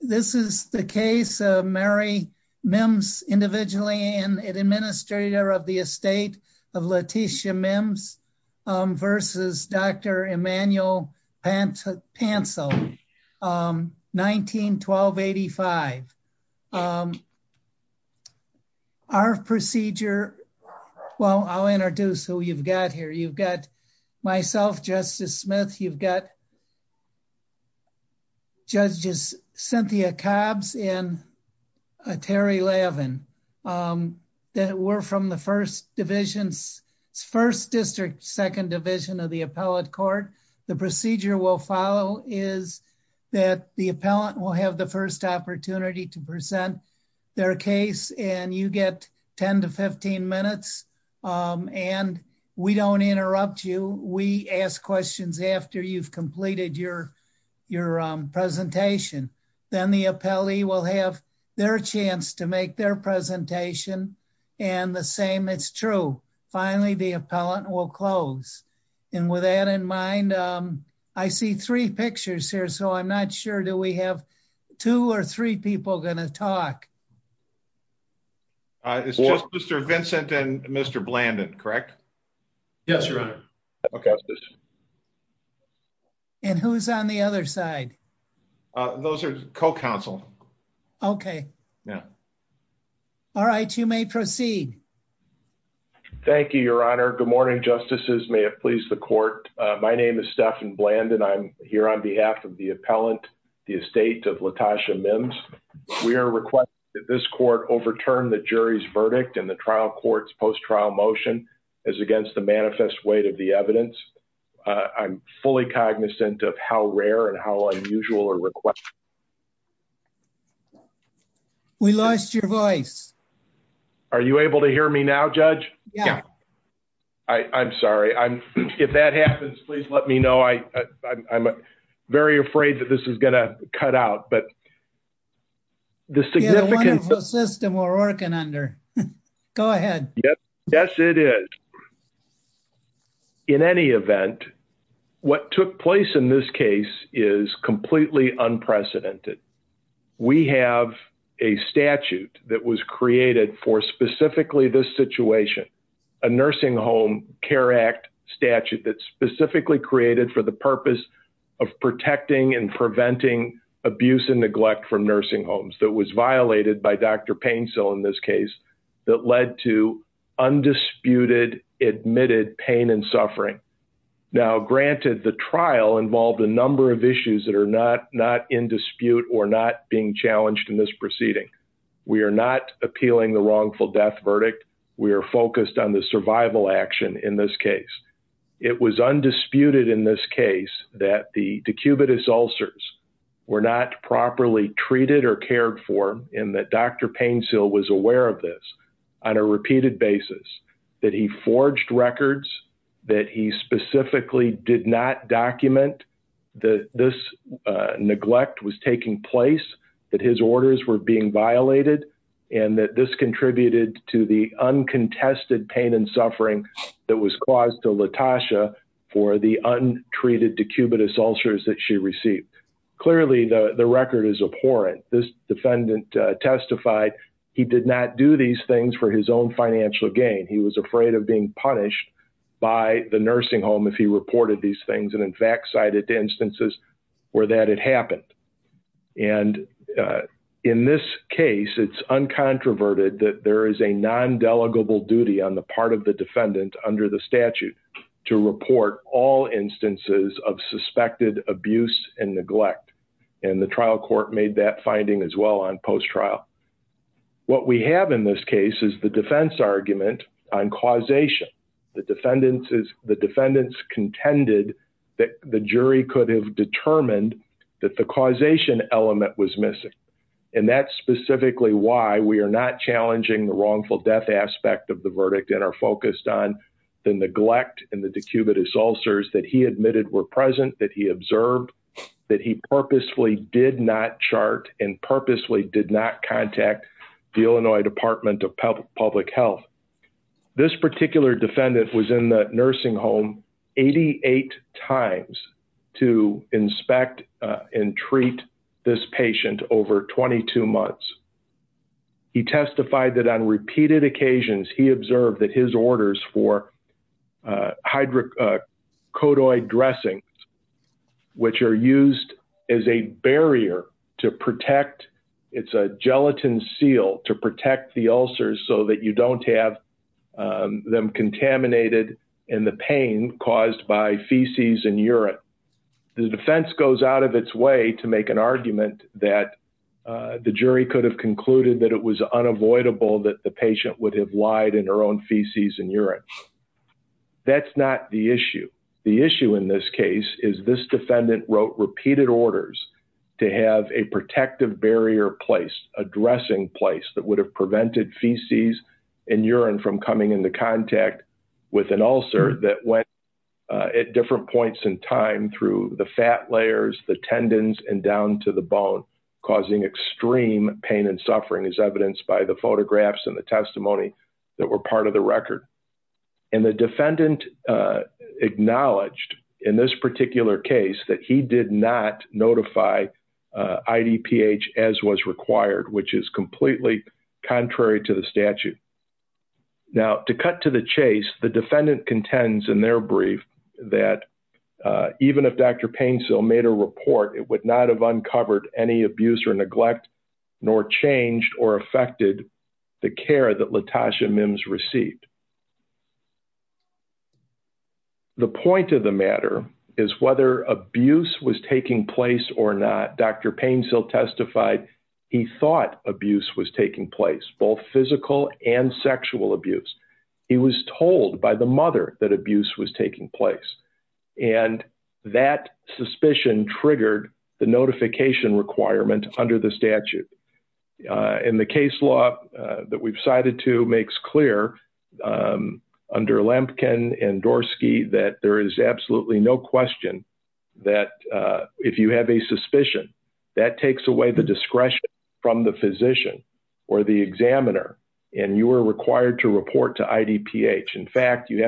This is the case of Mary Mimms, Individually and Administrator of the Estate of Letitia Mimms versus Dr. Emmanuel Pantel, 19-12-85. Our procedure, well I'll introduce who you've got here. You've got myself, Justice Smith. You've got judges Cynthia Cobbs and Terry Lavin. We're from the First District, Second Division of the Appellate Court. The procedure we'll follow is that the appellant will have the first opportunity to present their case and you get 10-15 minutes and we don't interrupt you. We ask questions after you've completed your presentation. Then the appellee will have their chance to make their presentation and the same is true. Finally, the appellant will close. And with that in mind, I see three pictures here, so I'm not sure do we have two or three people going to talk. It's just Mr. Vincent and Mr. Blandon, correct? Yes, Your Honor. Okay. And who's on the other side? Those are co-counsel. Okay. Yeah. All right, you may proceed. Thank you, Your Honor. Good morning, Justices. May it please the court. My name is Stephan Blandon. I'm here on behalf of the appellant, the estate of Latasha Mims. We are requesting that this court overturn the jury's verdict in the trial court's post-trial motion as against the manifest weight of the evidence. I'm fully cognizant of how rare and how unusual a request. We lost your voice. Are you able to hear me now, Judge? Yeah. I'm sorry. If that happens, please let me know. I'm very afraid that this is going to cut out. But the significant... We have a wonderful system we're working under. Go ahead. Yes, it is. In any event, what took place in this case is completely unprecedented. We have a statute that was created for specifically this situation, a Nursing Home Care Act statute that's specifically created for the purpose of protecting and preventing abuse and neglect from nursing homes. That was violated by Dr. Painesill in this case that led to undisputed admitted pain and suffering. Now, granted, the trial involved a number of issues that are not in dispute or not being challenged in this proceeding. We are not appealing the wrongful death verdict. We are focused on the survival action in this case. It was undisputed in this case that the decubitus ulcers were not properly treated or cared for and that Dr. Painesill was aware of this on a repeated basis, that he forged records, that he specifically did not document that this neglect was taking place, that his orders were being violated, and that this contributed to the uncontested pain and suffering that was caused to Latasha for the untreated decubitus ulcers that she received. Clearly, the record is abhorrent. This defendant testified he did not do these things for his own financial gain. He was afraid of being punished by the nursing home if he reported these things and, in fact, cited instances where that had happened. And in this case, it's uncontroverted that there is a non-delegable duty on the part of the defendant under the statute to report all instances of suspected abuse and neglect. And the trial court made that finding as well on post-trial. What we have in this case is the defense argument on causation. The defendants contended that the jury could have determined that the causation element was missing. And that's specifically why we are not challenging the wrongful death aspect of the verdict and are focused on the neglect and the decubitus ulcers that he admitted were present, that he observed, that he purposefully did not chart and purposefully did not contact the Illinois Department of Public Health. This particular defendant was in the nursing home 88 times to inspect and treat this patient over 22 months. He testified that on repeated occasions he observed that his orders for hydrocodoid dressings, which are used as a barrier to protect, it's a gelatin seal to protect the ulcers so that you don't have them contaminated in the pain caused by feces and urine. The defense goes out of its way to make an argument that the jury could have concluded that it was unavoidable that the patient would have lied in her own feces and urine. That's not the issue. The issue in this case is this defendant wrote repeated orders to have a protective barrier placed, a dressing place that would have prevented feces and urine from coming into contact with an ulcer that went at different points in time through the fat layers, the tendons, and down to the bone, causing extreme pain and suffering as evidenced by the photographs and the testimony that were part of the record. And the defendant acknowledged in this particular case that he did not notify IDPH as was required, which is completely contrary to the statute. Now, to cut to the chase, the defendant contends in their brief that even if Dr. Painesill made a report, it would not have uncovered any abuse or neglect nor changed or affected the care that LaTosha Mims received. The point of the matter is whether abuse was taking place or not. Dr. Painesill testified he thought abuse was taking place, both physical and sexual abuse. He was told by the mother that abuse was taking place, and that suspicion triggered the notification requirement under the statute. And the case law that we've cited to makes clear under Lemkin and Dorsky that there is absolutely no question that if you have a suspicion, that takes away the discretion from the physician or the examiner, and you are required to report to IDPH. So that you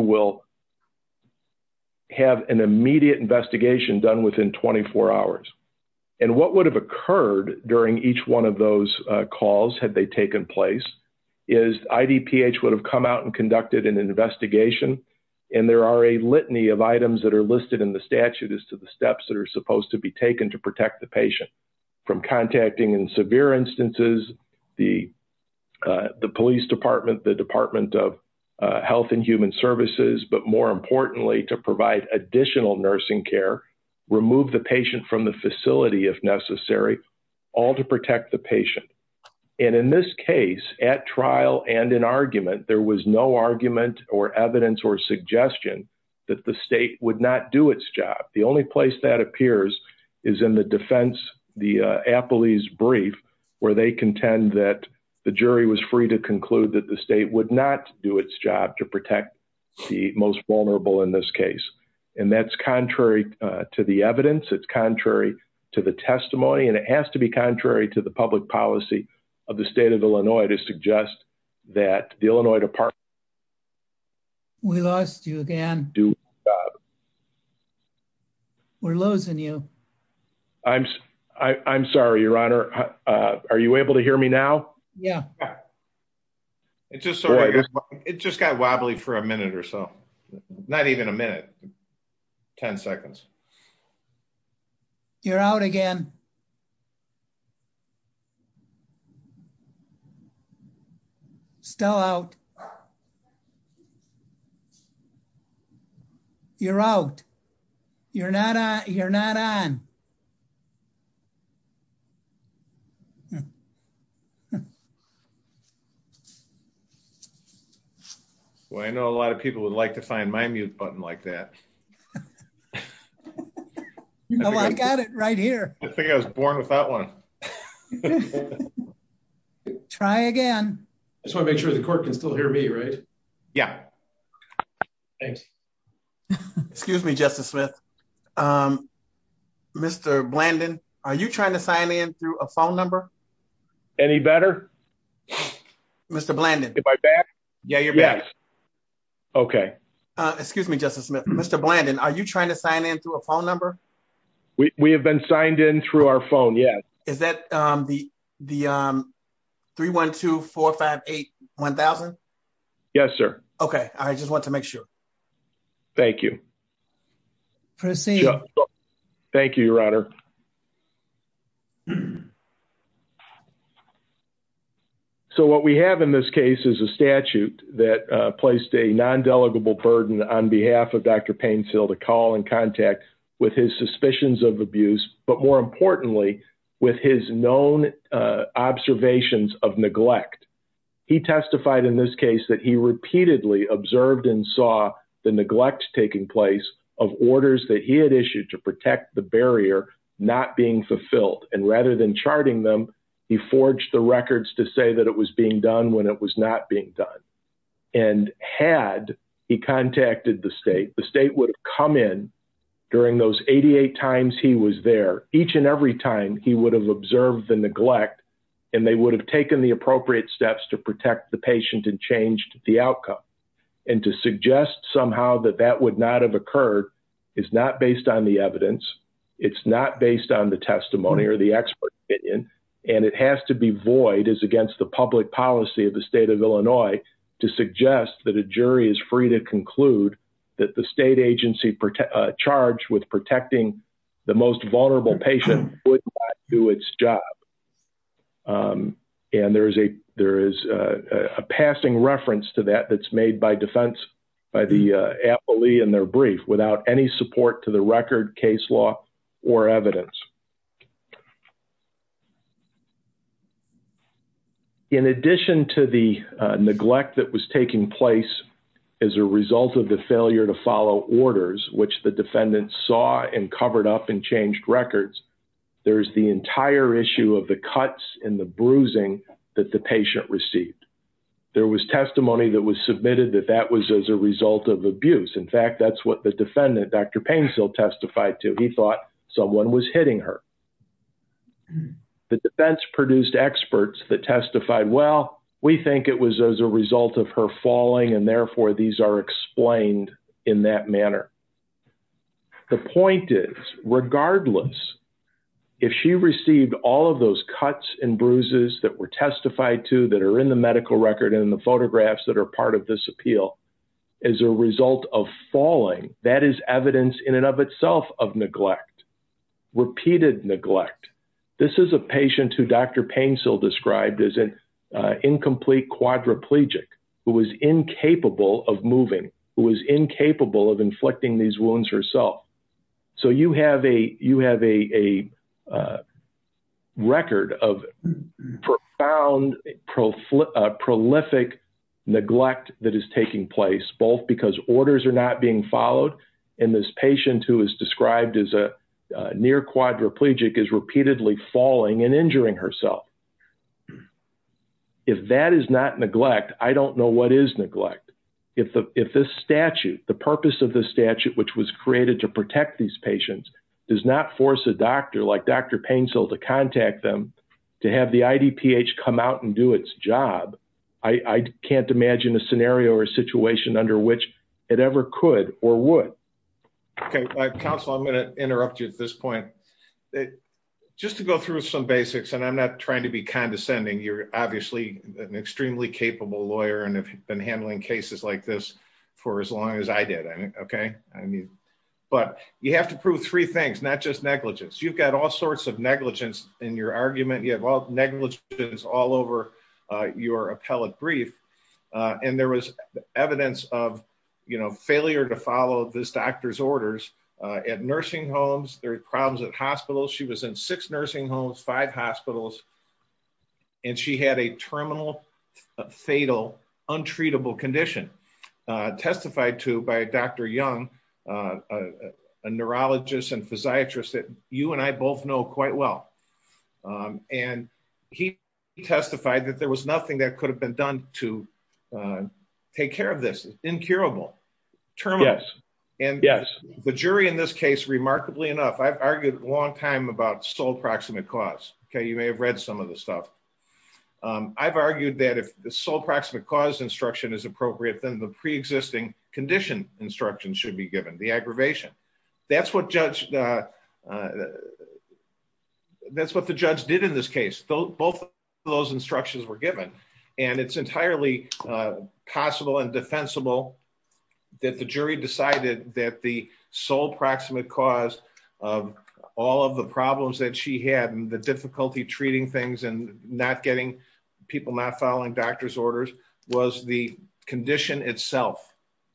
will have an immediate investigation done within 24 hours. And what would have occurred during each one of those calls had they taken place is IDPH would have come out and conducted an investigation. And there are a litany of items that are listed in the statute as to the steps that are supposed to be taken to protect the patient. From contacting in severe instances, the police department, the Department of Health and Human Services, but more importantly to provide additional nursing care, remove the patient from the facility if necessary, all to protect the patient. And in this case, at trial and in argument, there was no argument or evidence or suggestion that the state would not do its job. The only place that appears is in the defense, the appellee's brief, where they contend that the jury was free to conclude that the state would not do its job to protect the most vulnerable in this case. And that's contrary to the evidence, it's contrary to the testimony, and it has to be contrary to the public policy of the state of Illinois to suggest that the Illinois Department of Health and Human Services would not do its job. We lost you again. We're losing you. I'm sorry, Your Honor. Are you able to hear me now? Yeah. It just got wobbly for a minute or so. Not even a minute. 10 seconds. You're out again. Still out. You're out. You're not on. Well, I know a lot of people would like to find my mute button like that. I've got it right here. I think I was born with that one. Try again. So make sure the court can still hear me right. Yeah. Thanks. Excuse me, Justice Smith. Mr. Blandon, are you trying to sign in through a phone number. Any better. Mr. Blandon. Yeah, you're back. Okay. Excuse me, Justice Smith, Mr. Blandon, are you trying to sign in through a phone number. We have been signed in through our phone. Yeah. Is that the, the 312-458-1000. Yes, sir. Okay. I just want to make sure. Thank you. Proceed. Thank you, Your Honor. So what we have in this case is a statute that placed a non delegable burden on behalf of Dr. He repeatedly observed and saw the neglect taking place of orders that he had issued to protect the barrier, not being fulfilled and rather than charting them. He forged the records to say that it was being done when it was not being done. And had he contacted the state, the state would come in during those 88 times he was there each and every time he would have observed the neglect. And they would have taken the appropriate steps to protect the patient and changed the outcome. And to suggest somehow that that would not have occurred is not based on the evidence. It's not based on the testimony or the expert. And it has to be void is against the public policy of the state of Illinois to suggest that a jury is free to conclude that the state agency charged with protecting the most vulnerable patient would do its job. And there is a there is a passing reference to that that's made by defense by the appellee and their brief without any support to the record case law or evidence. In addition to the neglect that was taking place as a result of the failure to follow orders, which the defendant saw and covered up and changed records. There's the entire issue of the cuts in the bruising that the patient received. There was testimony that was submitted that that was as a result of abuse. In fact, that's what the defendant, Dr. Painsil, testified to. He thought someone was hitting her. The defense produced experts that testified. Well, we think it was as a result of her falling and therefore these are explained in that manner. The point is, regardless, if she received all of those cuts and bruises that were testified to that are in the medical record and the photographs that are part of this appeal as a result of falling, that is evidence in and of itself of neglect, repeated neglect. This is a patient who Dr. Painsil described as an incomplete quadriplegic who was incapable of moving, who was incapable of inflicting these wounds herself. So you have a record of profound, prolific neglect that is taking place, both because orders are not being followed and this patient who is described as a near quadriplegic is repeatedly falling and injuring herself. If that is not neglect, I don't know what is neglect. If this statute, the purpose of the statute, which was created to protect these patients, does not force a doctor like Dr. Painsil to contact them to have the IDPH come out and do its job, I can't imagine a scenario or a situation under which it ever could or would. Okay, counsel, I'm going to interrupt you at this point. Just to go through some basics, and I'm not trying to be condescending, you're obviously an extremely capable lawyer and have been handling cases like this for as long as I did. But you have to prove three things, not just negligence. You've got all sorts of negligence in your argument, you have negligence all over your appellate brief. And there was evidence of failure to follow this doctor's orders at nursing homes, there were problems at hospitals. She was in six nursing homes, five hospitals. And she had a terminal, fatal, untreatable condition, testified to by Dr. Young, a neurologist and physiatrist that you and I both know quite well. And he testified that there was nothing that could have been done to take care of this, incurable, terminal. Yes, yes. And the jury in this case, remarkably enough, I've argued a long time about sole proximate cause, okay, you may have read some of this stuff. I've argued that if the sole proximate cause instruction is appropriate, then the pre-existing condition instruction should be given, the aggravation. That's what the judge did in this case, both of those instructions were given. And it's entirely possible and defensible that the jury decided that the sole proximate cause of all of the problems that she had and the difficulty treating things and people not following doctor's orders was the condition itself.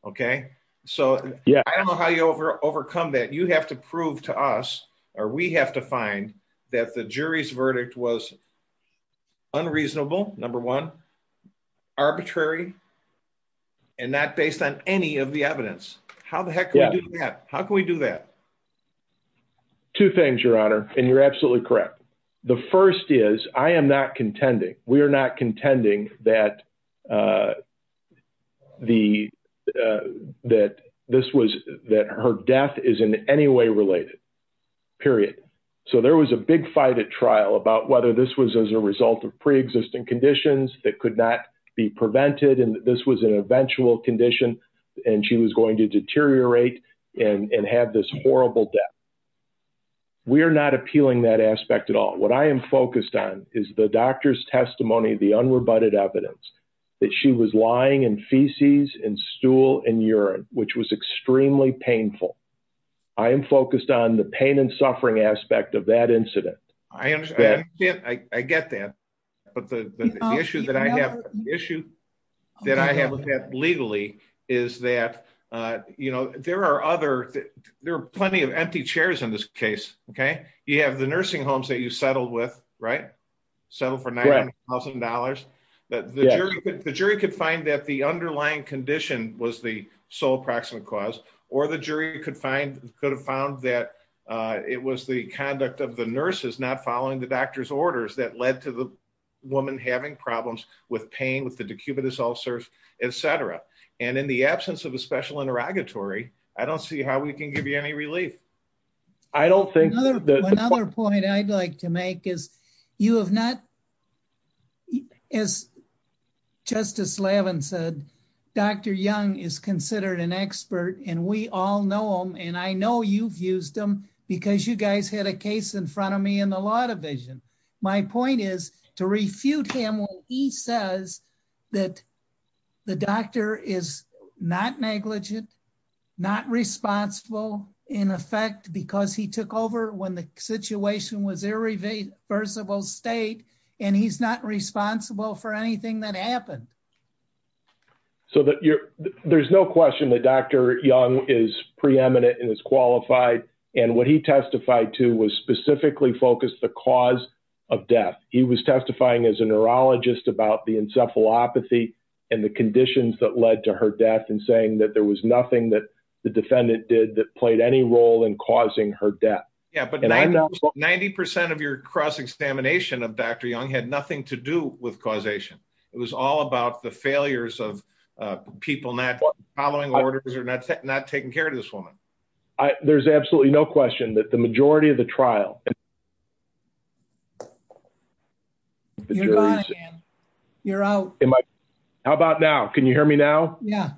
Okay, so I don't know how you overcome that. You have to prove to us or we have to find that the jury's verdict was unreasonable, number one, arbitrary, and not based on any of the evidence. How the heck can we do that? How can we do that? Two things, Your Honor, and you're absolutely correct. The first is I am not contending, we are not contending that her death is in any way related, period. So there was a big fight at trial about whether this was as a result of pre-existing conditions that could not be prevented and this was an eventual condition and she was going to deteriorate and have this horrible death. We are not appealing that aspect at all. What I am focused on is the doctor's testimony, the unrebutted evidence that she was lying in feces and stool and urine, which was extremely painful. I am focused on the pain and suffering aspect of that incident. I get that, but the issue that I have with that legally is that, you know, there are other, there are plenty of empty chairs in this case, okay? You have the nursing homes that you settled with, right? Settled for $900,000. The jury could find that the underlying condition was the sole proximate cause or the jury could have found that it was the conduct of the nurses not following the doctor's orders that led to the woman having problems with pain, with the decubitus ulcers, etc. And in the absence of a special interrogatory, I don't see how we can give you any relief. Another point I'd like to make is you have not, as Justice Lavin said, Dr. Young is considered an expert and we all know him and I know you've used him because you guys had a case in front of me in the law division. My point is to refute him when he says that the doctor is not negligent, not responsible in effect because he took over when the situation was irreversible state and he's not responsible for anything that happened. So there's no question that Dr. Young is preeminent and is qualified and what he testified to was specifically focused the cause of death. He was testifying as a neurologist about the encephalopathy and the conditions that led to her death and saying that there was nothing that the defendant did that played any role in causing her death. Yeah, but 90% of your cross-examination of Dr. Young had nothing to do with causation. It was all about the failures of people not following orders or not taking care of this woman. There's absolutely no question that the majority of the trial. You're out. How about now? Can you hear me now? Yeah.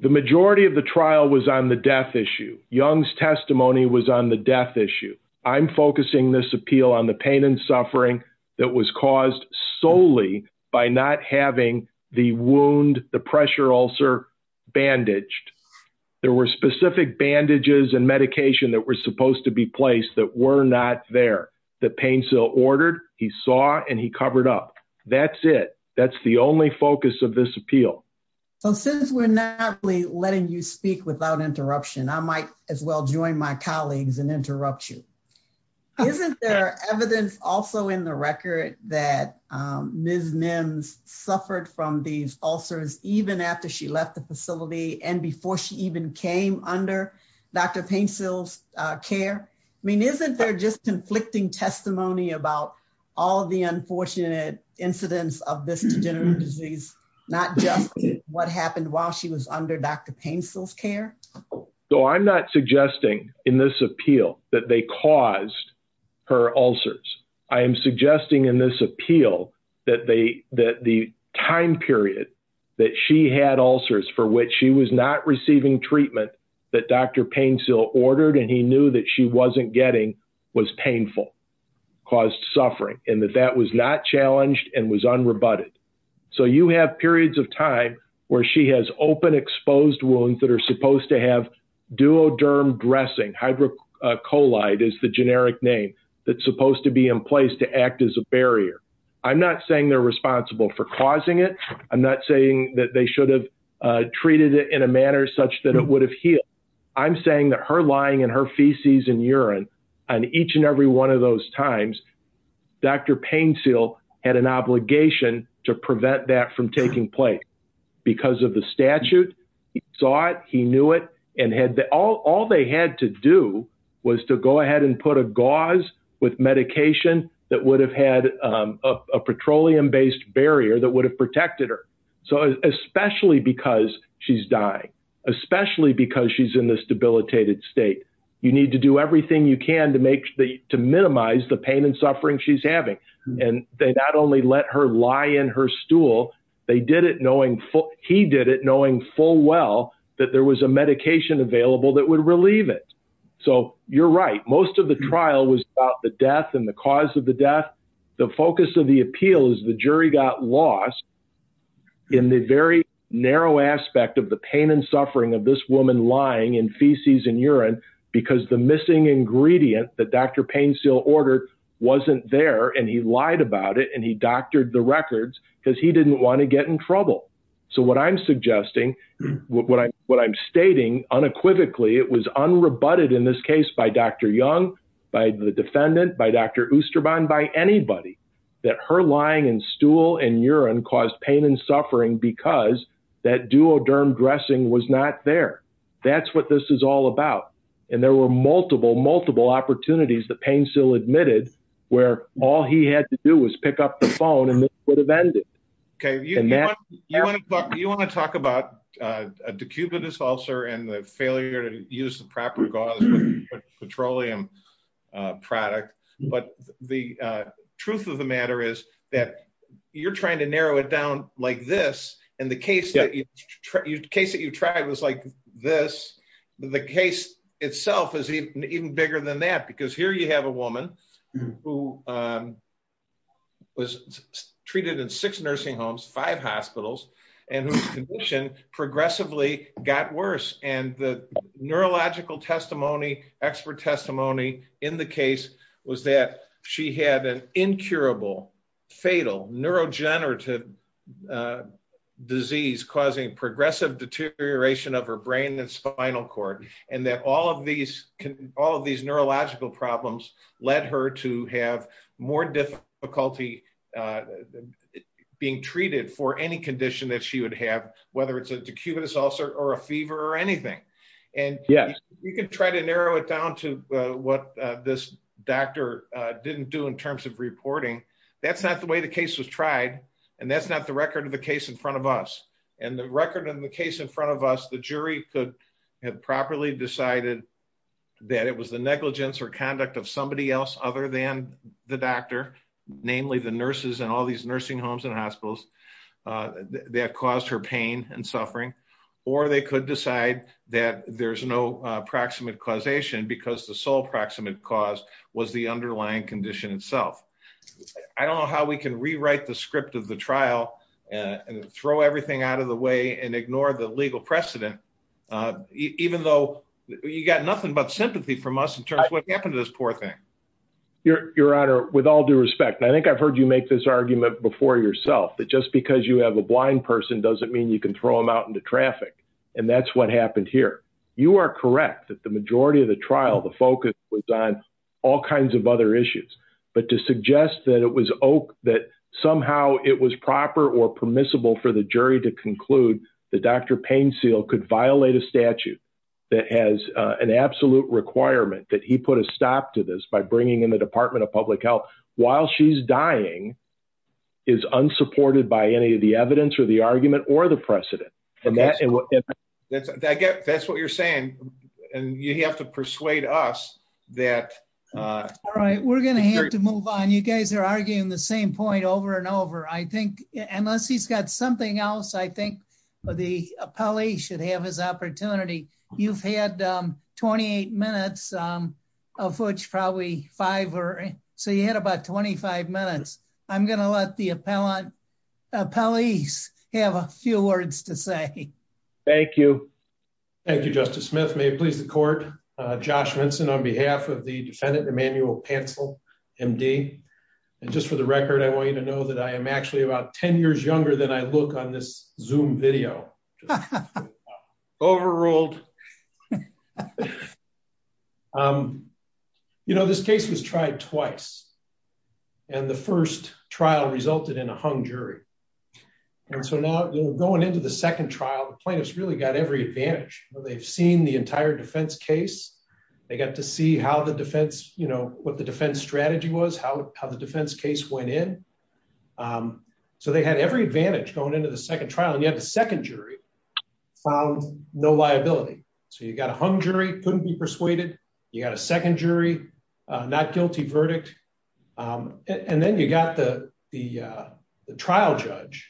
The majority of the trial was on the death issue. Young's testimony was on the death issue. I'm focusing this appeal on the pain and suffering that was caused solely by not having the wound, the pressure ulcer bandaged. There were specific bandages and medication that were supposed to be placed that were not there. The pain still ordered. He saw and he covered up. That's it. That's the only focus of this appeal. Since we're not letting you speak without interruption, I might as well join my colleagues and interrupt you. Isn't there evidence also in the record that Ms. Nims suffered from these ulcers even after she left the facility and before she even came under Dr. Paintsill's care? I mean, isn't there just conflicting testimony about all the unfortunate incidents of this degenerative disease, not just what happened while she was under Dr. Paintsill's care? I'm not suggesting in this appeal that they caused her ulcers. I am suggesting in this appeal that the time period that she had ulcers for which she was not receiving treatment that Dr. Paintsill ordered and he knew that she wasn't getting was painful, caused suffering, and that that was not challenged and was unrebutted. So you have periods of time where she has open exposed wounds that are supposed to have duoderm dressing. Hydrocolide is the generic name that's supposed to be in place to act as a barrier. I'm not saying they're responsible for causing it. I'm not saying that they should have treated it in a manner such that it would have healed. I'm saying that her lying in her feces and urine on each and every one of those times, Dr. Paintsill had an obligation to prevent that from taking place because of the statute. He saw it. He knew it. And all they had to do was to go ahead and put a gauze with medication that would have had a petroleum based barrier that would have protected her. So especially because she's dying, especially because she's in this debilitated state, you need to do everything you can to minimize the pain and suffering she's having. And they not only let her lie in her stool, they did it knowing he did it knowing full well that there was a medication available that would relieve it. So you're right. Most of the trial was about the death and the cause of the death. The focus of the appeal is the jury got lost in the very narrow aspect of the pain and suffering of this woman lying in feces and urine because the missing ingredient that Dr. Paintsill ordered wasn't there and he lied about it and he doctored the records because he didn't want to get in trouble. So what I'm suggesting, what I'm stating unequivocally, it was unrebutted in this case by Dr. Young, by the defendant, by Dr. Oosterbaan, by anybody, that her lying in stool and urine caused pain and suffering because that duoderm dressing was not there. That's what this is all about. And there were multiple, multiple opportunities that Paintsill admitted where all he had to do was pick up the phone and this would have ended. You want to talk about a decubitus ulcer and the failure to use the proper gauze petroleum product. But the truth of the matter is that you're trying to narrow it down like this and the case that you tried was like this. The case itself is even bigger than that because here you have a woman who was treated in six nursing homes, five hospitals and whose condition progressively got worse. And the neurological testimony, expert testimony in the case was that she had an incurable, fatal neurodegenerative disease causing progressive deterioration of her brain and spinal cord. And that all of these neurological problems led her to have more difficulty being treated for any condition that she would have, whether it's a decubitus ulcer or a fever or anything. And you can try to narrow it down to what this doctor didn't do in terms of reporting. That's not the way the case was tried. And that's not the record of the case in front of us. And the record in the case in front of us, the jury could have properly decided that it was the negligence or conduct of somebody else other than the doctor, namely the nurses and all these nursing homes and hospitals that caused her pain and suffering. Or they could decide that there's no proximate causation because the sole proximate cause was the underlying condition itself. I don't know how we can rewrite the script of the trial and throw everything out of the way and ignore the legal precedent, even though you got nothing but sympathy from us in terms of what happened to this poor thing. Your Honor, with all due respect, and I think I've heard you make this argument before yourself, that just because you have a blind person doesn't mean you can throw them out into traffic. And that's what happened here. You are correct that the majority of the trial, the focus was on all kinds of other issues. But to suggest that somehow it was proper or permissible for the jury to conclude that Dr. Paine Seale could violate a statute that has an absolute requirement that he put a stop to this by bringing in the Department of Public Health while she's dying is unsupported by any of the evidence or the argument or the precedent. That's what you're saying. And you have to persuade us that... All right, we're going to have to move on. You guys are arguing the same point over and over. I think unless he's got something else, I think the appellee should have his opportunity. You've had 28 minutes, of which probably five or... So you had about 25 minutes. I'm going to let the appellees have a few words to say. Thank you. Thank you, Justice Smith. May it please the court. Josh Vinson on behalf of the defendant, Emmanuel Pantzl, MD. And just for the record, I want you to know that I am actually about 10 years younger than I look on this Zoom video. Overruled. You know, this case was tried twice. And the first trial resulted in a hung jury. And so now going into the second trial, the plaintiffs really got every advantage. They've seen the entire defense case. They got to see what the defense strategy was, how the defense case went in. So they had every advantage going into the second trial. And yet the second jury found no liability. So you got a hung jury, couldn't be persuaded. You got a second jury, not guilty verdict. And then you got the trial judge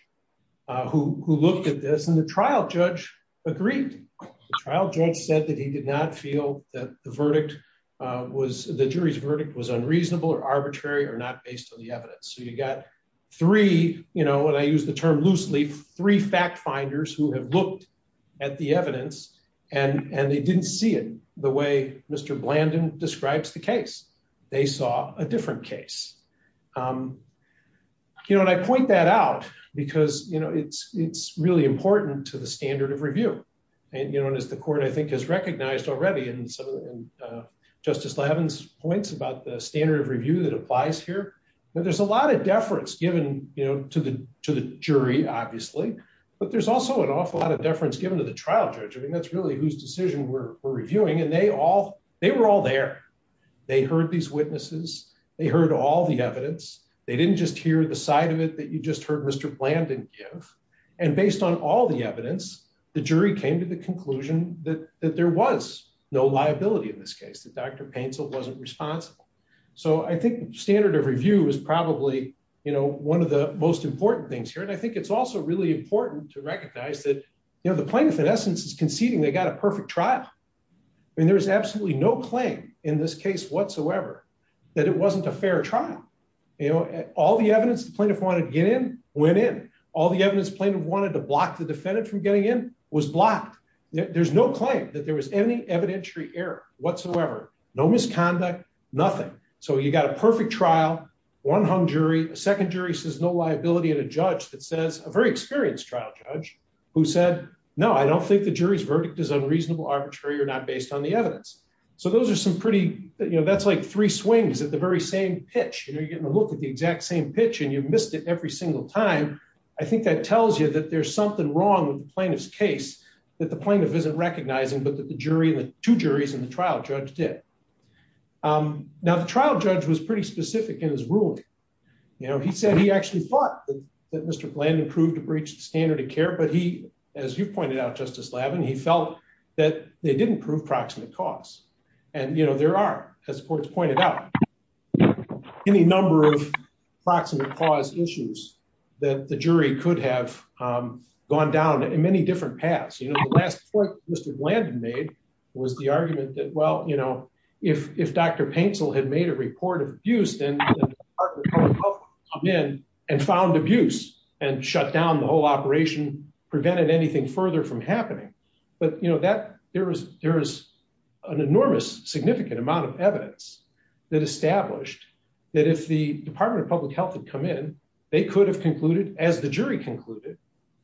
who looked at this, and the trial judge agreed. The trial judge said that he did not feel that the jury's verdict was unreasonable or arbitrary or not based on the evidence. So you got three, you know, and I use the term loosely, three fact finders who have looked at the evidence, and they didn't see it the way Mr. Blandin describes the case. They saw a different case. You know, and I point that out because, you know, it's really important to the standard of review. And, you know, and as the court, I think, has recognized already in some of Justice Leaven's points about the standard of review that applies here. There's a lot of deference given, you know, to the jury, obviously. But there's also an awful lot of deference given to the trial judge. I mean, that's really whose decision we're reviewing. And they all, they were all there. They heard these witnesses. They heard all the evidence. They didn't just hear the side of it that you just heard Mr. Blandin give. And based on all the evidence, the jury came to the conclusion that there was no liability in this case, that Dr. Paintsill wasn't responsible. So I think standard of review is probably, you know, one of the most important things here. And I think it's also really important to recognize that, you know, the plaintiff, in essence, is conceding they got a perfect trial. I mean, there is absolutely no claim in this case whatsoever that it wasn't a fair trial. You know, all the evidence the plaintiff wanted to get in, went in. All the evidence the plaintiff wanted to block the defendant from getting in, was blocked. There's no claim that there was any evidentiary error whatsoever. No misconduct, nothing. So you got a perfect trial, one hung jury, a second jury says no liability, and a judge that says, a very experienced trial judge, who said, no, I don't think the jury's verdict is unreasonable, arbitrary, or not based on the evidence. So those are some pretty, you know, that's like three swings at the very same pitch. You know, you're getting a look at the exact same pitch and you've missed it every single time. I think that tells you that there's something wrong with the plaintiff's case, that the plaintiff isn't recognizing, but that the jury and the two juries in the trial judge did. Now, the trial judge was pretty specific in his ruling. You know, he said he actually thought that Mr. Blandon proved to breach the standard of care, but he, as you pointed out, Justice Lavin, he felt that they didn't prove proximate cause. And, you know, there are, as the courts pointed out, any number of proximate cause issues that the jury could have gone down in many different paths. You know, the last point Mr. Blandon made was the argument that, well, you know, if Dr. Paintsill had made a report of abuse, then the Department of Public Health would have come in and found abuse and shut down the whole operation, prevented anything further from happening. But, you know, there is an enormous, significant amount of evidence that established that if the Department of Public Health had come in, they could have concluded, as the jury concluded,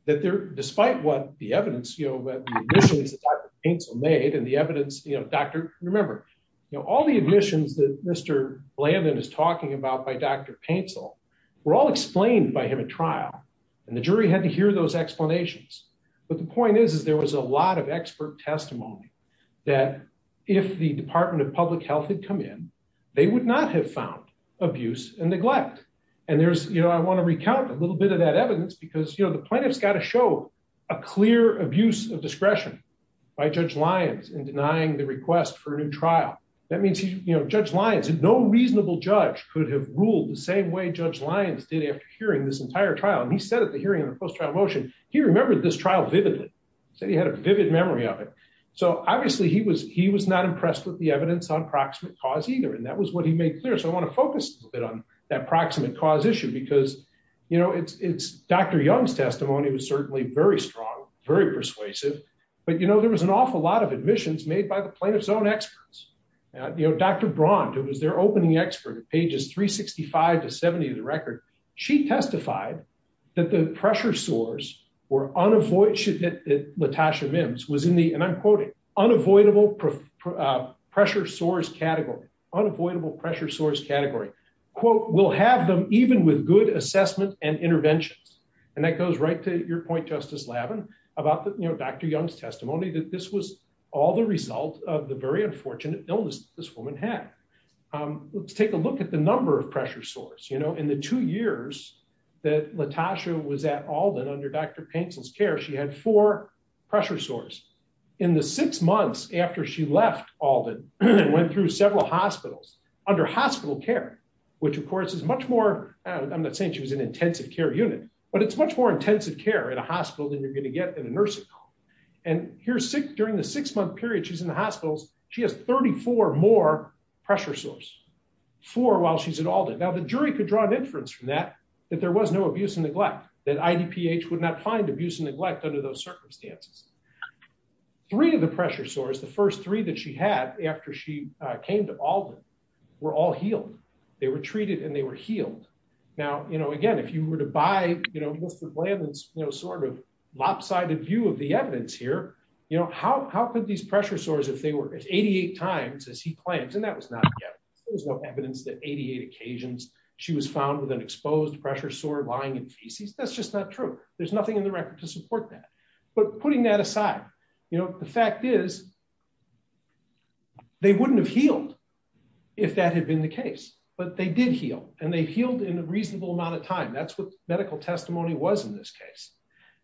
that despite what the evidence, you know, the initials that Dr. Paintsill made and the evidence, you know, Dr., remember, you know, all the admissions that Mr. Blandon is talking about by Dr. Paintsill were all explained by him at trial. And the jury had to hear those explanations. But the point is, is there was a lot of expert testimony that if the Department of Public Health had come in, they would not have found abuse and neglect. And there's, you know, I want to recount a little bit of that evidence because, you know, the plaintiff's got to show a clear abuse of discretion by Judge Lyons in denying the request for a new trial. That means, you know, Judge Lyons, no reasonable judge could have ruled the same way Judge Lyons did after hearing this entire trial. And he said at the hearing in the post-trial motion, he remembered this trial vividly. He said he had a vivid memory of it. So obviously he was not impressed with the evidence on proximate cause either. And that was what he made clear. So I want to focus a little bit on that proximate cause issue because, you know, it's Dr. Young's testimony was certainly very strong, very persuasive. But, you know, there was an awful lot of admissions made by the plaintiff's own experts. You know, Dr. Braund, who was their opening expert at pages 365 to 70 of the record, she testified that the pressure sores were unavoidable. And the evidence that LaTosha Mims was in the, and I'm quoting, unavoidable pressure sores category, unavoidable pressure sores category, quote, will have them even with good assessment and interventions. And that goes right to your point, Justice Lavin, about, you know, Dr. Young's testimony that this was all the result of the very unfortunate illness this woman had. Let's take a look at the number of pressure sores. You know, in the two years that LaTosha was at Alden under Dr. Paintsel's care, she had four pressure sores. In the six months after she left Alden and went through several hospitals, under hospital care, which of course is much more, I'm not saying she was an intensive care unit, but it's much more intensive care in a hospital than you're going to get in a nursing home. And during the six month period she's in the hospitals, she has 34 more pressure sores, four while she's at Alden. Now the jury could draw an inference from that, that there was no abuse and neglect, that IDPH would not find abuse and neglect under those circumstances. Three of the pressure sores, the first three that she had after she came to Alden, were all healed. They were treated and they were healed. Now, you know, again, if you were to buy, you know, Mr. Lavin's, you know, sort of lopsided view of the evidence here, you know, how could these pressure sores, if they were as 88 times as he claims, and that was not evidence, there was no evidence that 88 occasions she was found with an exposed pressure sore lying in feces, that's just not true. There's nothing in the record to support that. But putting that aside, you know, the fact is, they wouldn't have healed. If that had been the case, but they did heal, and they healed in a reasonable amount of time that's what medical testimony was in this case.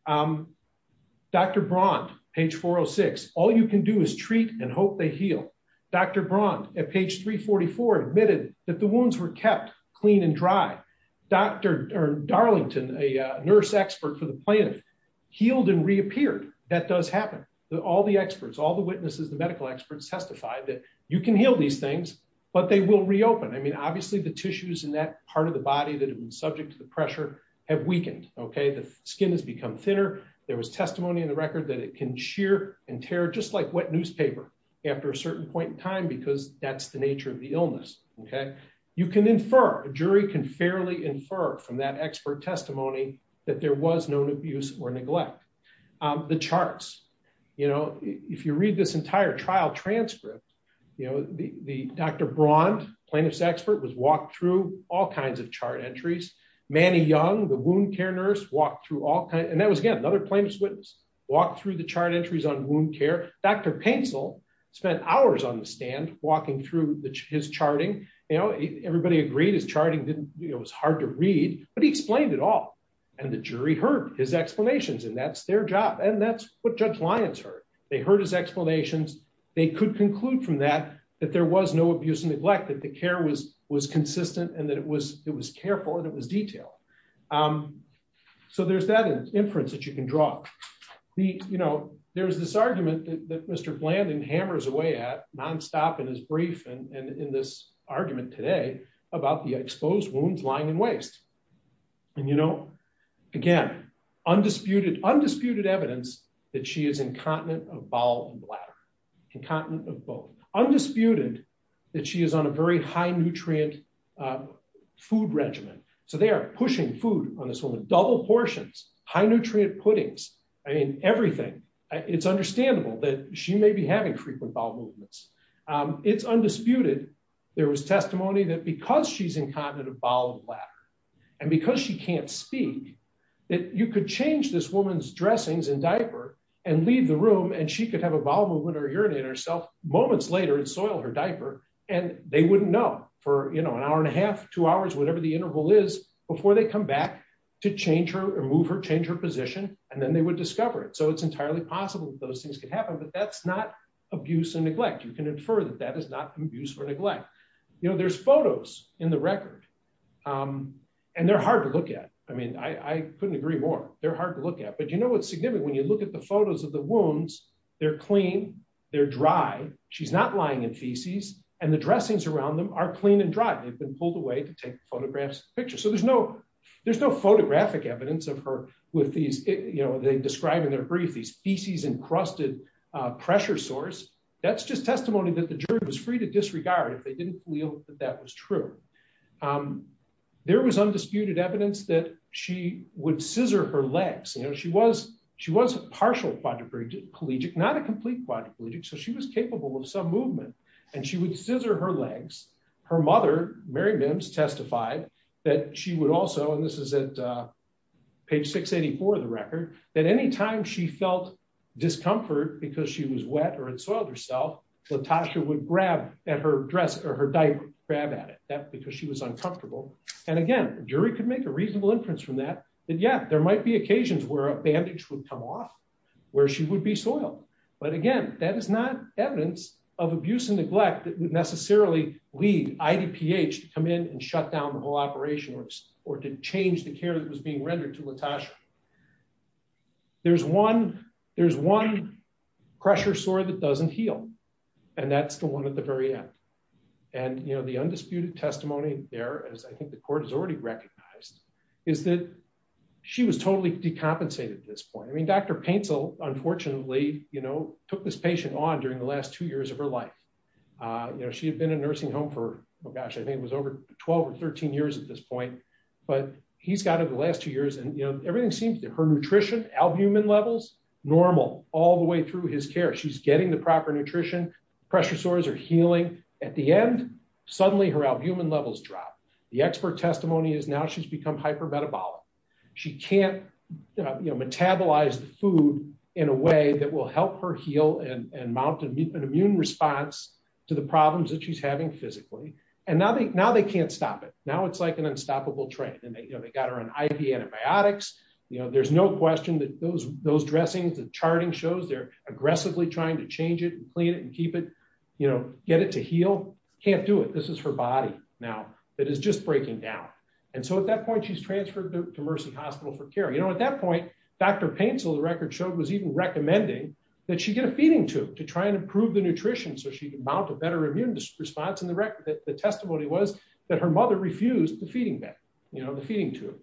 Dr. Braun, page 406, all you can do is treat and hope they heal. Dr. Braun at page 344 admitted that the wounds were kept clean and dry. Dr. Darlington, a nurse expert for the planet, healed and reappeared. That does happen. All the experts, all the witnesses, the medical experts testified that you can heal these things, but they will reopen I mean obviously the tissues in that part of the body that have been subject to the pressure have weakened. Okay, the skin has become thinner. There was testimony in the record that it can shear and tear just like wet newspaper. After a certain point in time because that's the nature of the illness. Okay, you can infer a jury can fairly infer from that expert testimony that there was no abuse or neglect. The charts, you know, if you read this entire trial transcript, you know, the Dr. Braun plaintiff's expert was walked through all kinds of chart entries, Manny Young the wound care nurse walked through all kinds and that was again another plaintiff's witness walked through the chart entries on wound care, Dr pencil spent hours on the stand, walking through his charting, you know, everybody agreed is charting didn't, it was hard to read, but he explained it all. And the jury heard his explanations and that's their job and that's what judge Lyons heard, they heard his explanations, they could conclude from that, that there was no abuse and neglect that the care was was consistent and that it was, it was careful that was detail. So there's that inference that you can draw the, you know, there's this argument that Mr. Blandon hammers away at nonstop in his brief and in this argument today about the exposed wounds lying in waste. And you know, again, undisputed undisputed evidence that she is incontinent of bowel and bladder incontinent of both undisputed that she is on a very high nutrient food regimen. So they are pushing food on this woman double portions high nutrient puddings. I mean, everything. It's understandable that she may be having frequent bowel movements. It's undisputed. There was testimony that because she's incontinent of bowel and bladder. And because she can't speak that you could change this woman's dressings and diaper and leave the room and she could have a bowel movement or urinate herself moments later and soil her diaper, and they wouldn't know for you know an hour and a half, two hours whatever the interval is before they come back to change her or move or change her position, and then they would discover it so it's entirely possible that those things could happen but that's not abuse and neglect you can infer that that is not abuse or neglect. You know there's photos in the record. And they're hard to look at. I mean, I couldn't agree more, they're hard to look at but you know what's significant when you look at the photos of the wounds, they're clean, they're dry. She's not lying in feces, and the dressings around them are clean and dry, they've been pulled away to take photographs picture so there's no there's no photographic evidence of her with these, you know, they describe in their brief these feces encrusted pressure source. That's just testimony that the jury was free to disregard if they didn't feel that that was true. There was undisputed evidence that she would scissor her legs you know she was she was partial quadriplegic not a complete quadriplegic so she was capable of some movement, and she would scissor her legs. Her mother, Mary bends testified that she would also and this is at page 684 the record that anytime she felt discomfort because she was wet or it's all yourself. Latasha would grab at her dress or her diaper grab at it that because she was uncomfortable. And again, the jury could make a reasonable inference from that. And yet there might be occasions where a bandage would come off where she would be soil. But again, that is not evidence of abuse and neglect that would necessarily lead ID pH to come in and shut down the whole operation or, or to change the care that was being rendered to Natasha. There's one, there's one pressure sore that doesn't heal. And that's the one at the very end. And you know the undisputed testimony there as I think the court has already recognized is that she was totally decompensated this point I mean Dr pencil, unfortunately, you know, took this patient on during the last two years of her life. She had been a nursing home for gosh I think it was over 12 or 13 years at this point, but he's got over the last two years and you know everything seems to her nutrition albumin levels, normal, all the way through his care she's getting the proper nutrition pressure sores are healing. At the end, suddenly her albumin levels drop the expert testimony is now she's become hyper metabolic. She can't, you know, metabolize the food in a way that will help her heal and mountain meet an immune response to the problems that she's having physically, and now they now they can't stop it. Now it's like an unstoppable train and they got her on IV antibiotics, you know, there's no question that those those dressings and charting shows they're aggressively trying to change it and clean it and keep it, you know, get it to heal can't do it this is her body. Now, that is just breaking down. And so at that point she's transferred to Mercy Hospital for care you know at that point, Dr pencil the record showed was even recommending that she get a feeding tube to try and improve the nutrition so she can mount a better immune response and the record that the testimony was that her mother refused to feeding back, you know, the feeding tube.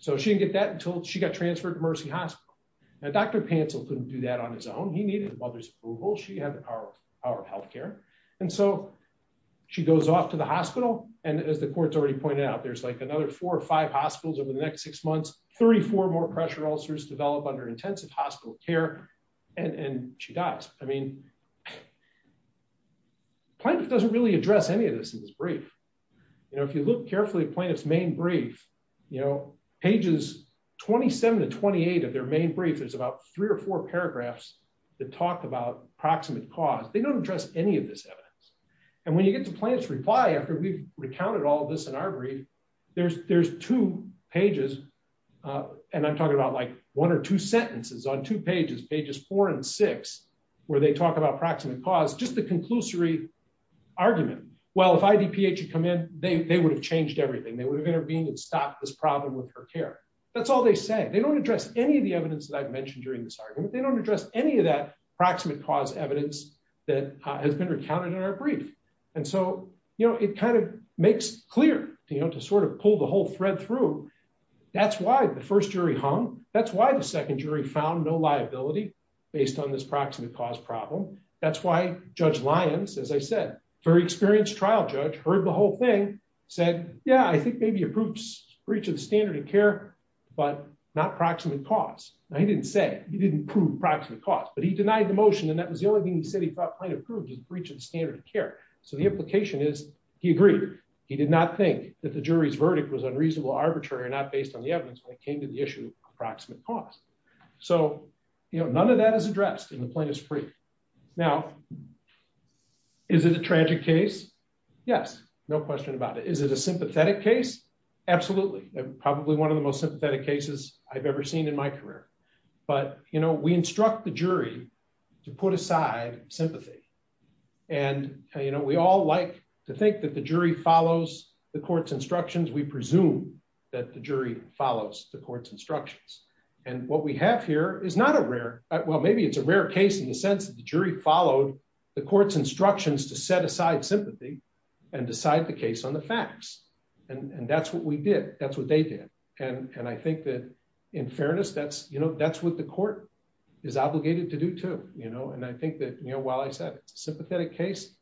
So she didn't get that until she got transferred to Mercy Hospital, and Dr pencil couldn't do that on his own he needed a mother's approval she had our, our health care. And so she goes off to the hospital, and as the courts already pointed out there's like another four or five hospitals over the next six months, 34 more pressure ulcers develop under intensive hospital care, and she dies, I mean, doesn't really address any of this in this brief. You know, if you look carefully plaintiffs main brief, you know, pages, 27 to 28 of their main brief is about three or four paragraphs that talked about proximate cause they don't address any of this evidence. And when you get to plants reply after we've recounted all this in our brief. There's, there's two pages. And I'm talking about like one or two sentences on two pages pages four and six, where they talk about proximate cause just the conclusory argument. Well if I DPA to come in, they would have changed everything they would have intervened and stop this problem with her care. That's all they say they don't address any of the evidence that I've mentioned during this argument they don't address any of that proximate cause evidence that has been recounted in our brief. And so, you know, it kind of makes clear, you know, to sort of pull the whole thread through. That's why the first jury hung. That's why the second jury found no liability, based on this proximate cause problem. That's why Judge Lyons, as I said, very experienced trial judge heard the whole thing said, Yeah, I think maybe approves for each of the standard of care, but not proximate cause. I didn't say he didn't prove proximate cause but he denied the motion and that was the only thing he said he thought kind of proved his breach of standard of care. So the implication is, he agreed, he did not think that the jury's verdict was unreasonable arbitrary not based on the evidence that came to the issue, approximate cost. So, you know, none of that is addressed in the plaintiff's brief. Now, is it a tragic case. Yes, no question about it. Is it a sympathetic case. Absolutely. Probably one of the most sympathetic cases I've ever seen in my career. But, you know, we instruct the jury to put aside sympathy. And, you know, we all like to think that the jury follows the court's instructions we presume that the jury follows the court's instructions. And what we have here is not a rare, well maybe it's a rare case in the sense that the jury followed the facts. And that's what we did, that's what they did. And I think that, in fairness, that's, you know, that's what the court is obligated to do to, you know, and I think that, you know, while I said sympathetic case,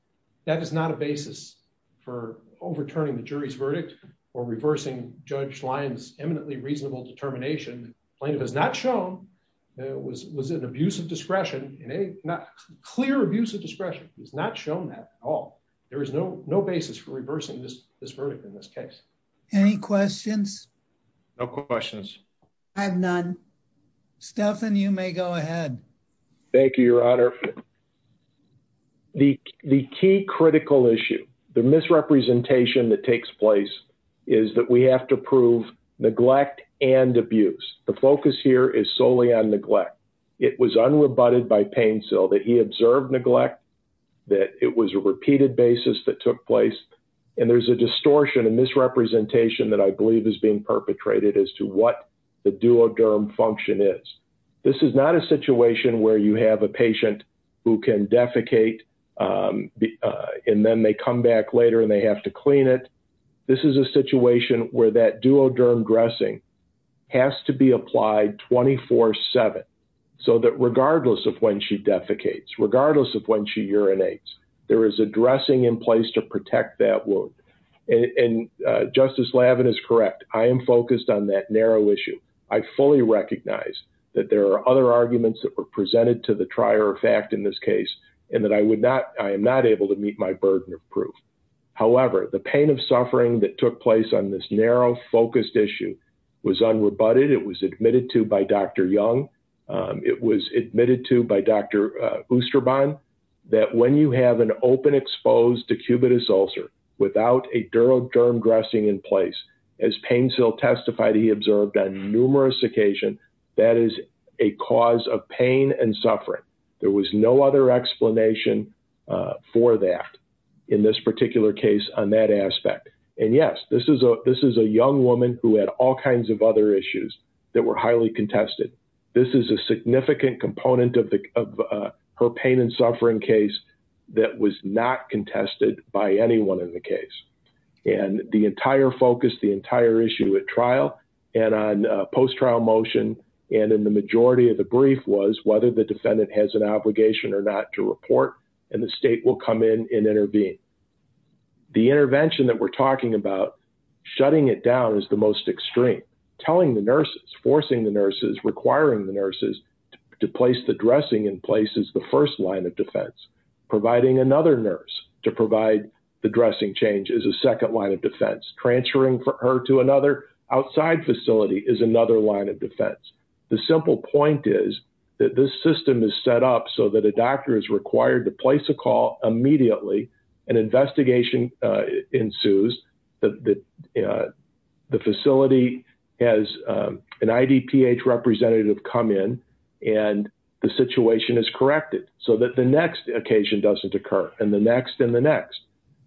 that is not a basis for overturning the jury's verdict or reversing Judge Lyons eminently reasonable determination plaintiff has not shown that was was an abuse of discretion in a not clear abuse of discretion is not shown that at all. There is no no basis for reversing this this verdict in this case. Any questions. No questions. I have none. Stephen, you may go ahead. Thank you, Your Honor. The, the key critical issue, the misrepresentation that takes place is that we have to prove neglect and abuse, the focus here is solely on neglect. It was unrebutted by pain so that he observed neglect that it was a repeated basis that took place. And there's a distortion and misrepresentation that I believe is being perpetrated as to what the duoderm function is. This is not a situation where you have a patient who can defecate. And then they come back later and they have to clean it. This is a situation where that duoderm dressing has to be applied 24 seven, so that regardless of when she defecates regardless of when she urinates, there is a dressing in place to protect that wound. And Justice Lavin is correct. I am focused on that narrow issue. I fully recognize that there are other arguments that were presented to the trier fact in this case, and that I would not, I am not able to meet my burden of proof. However, the pain of suffering that took place on this narrow focused issue was unrebutted. It was admitted to by Dr. Young. It was admitted to by Dr. Oosterbaan that when you have an open exposed to cubitus ulcer without a duoderm dressing in place, as pain still testified, he observed on numerous occasion, that is a cause of pain and suffering. There was no other explanation for that in this particular case on that aspect. And yes, this is a, this is a young woman who had all kinds of other issues that were highly contested. This is a significant component of her pain and suffering case that was not contested by anyone in the case. And the entire focus, the entire issue at trial, and on post trial motion, and in the majority of the brief was whether the defendant has an obligation or not to report, and the state will come in and intervene. The intervention that we're talking about, shutting it down is the most extreme. Telling the nurses, forcing the nurses, requiring the nurses to place the dressing in place is the first line of defense. Providing another nurse to provide the dressing change is a second line of defense. Transferring her to another outside facility is another line of defense. The simple point is that this system is set up so that a doctor is required to place a call immediately, an investigation ensues, the facility has an IDPH representative come in, and the situation is corrected so that the next occasion doesn't occur, and the next and the next.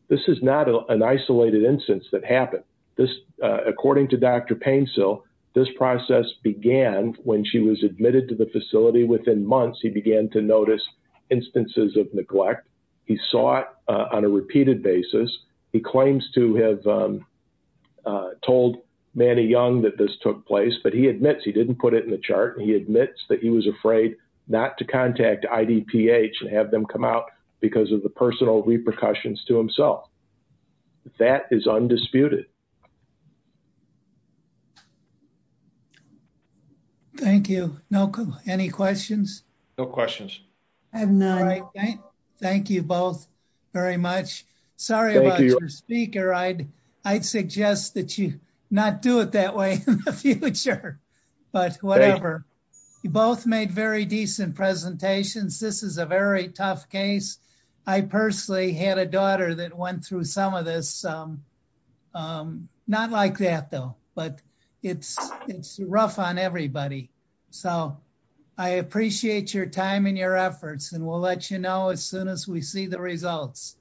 This is not an isolated instance that happened. This, according to Dr. Painsil, this process began when she was admitted to the facility within months, he began to notice instances of neglect. He saw it on a repeated basis. He claims to have told Manny Young that this took place, but he admits he didn't put it in the chart. He admits that he was afraid not to contact IDPH and have them come out because of the personal repercussions to himself. That is undisputed. Thank you. Any questions? No questions. Thank you both very much. Sorry about your speaker. I'd suggest that you not do it that way in the future. But whatever. You both made very decent presentations. This is a very tough case. I personally had a daughter that went through some of this. Not like that, though, but it's rough on everybody. So I appreciate your time and your efforts and we'll let you know as soon as we see the results.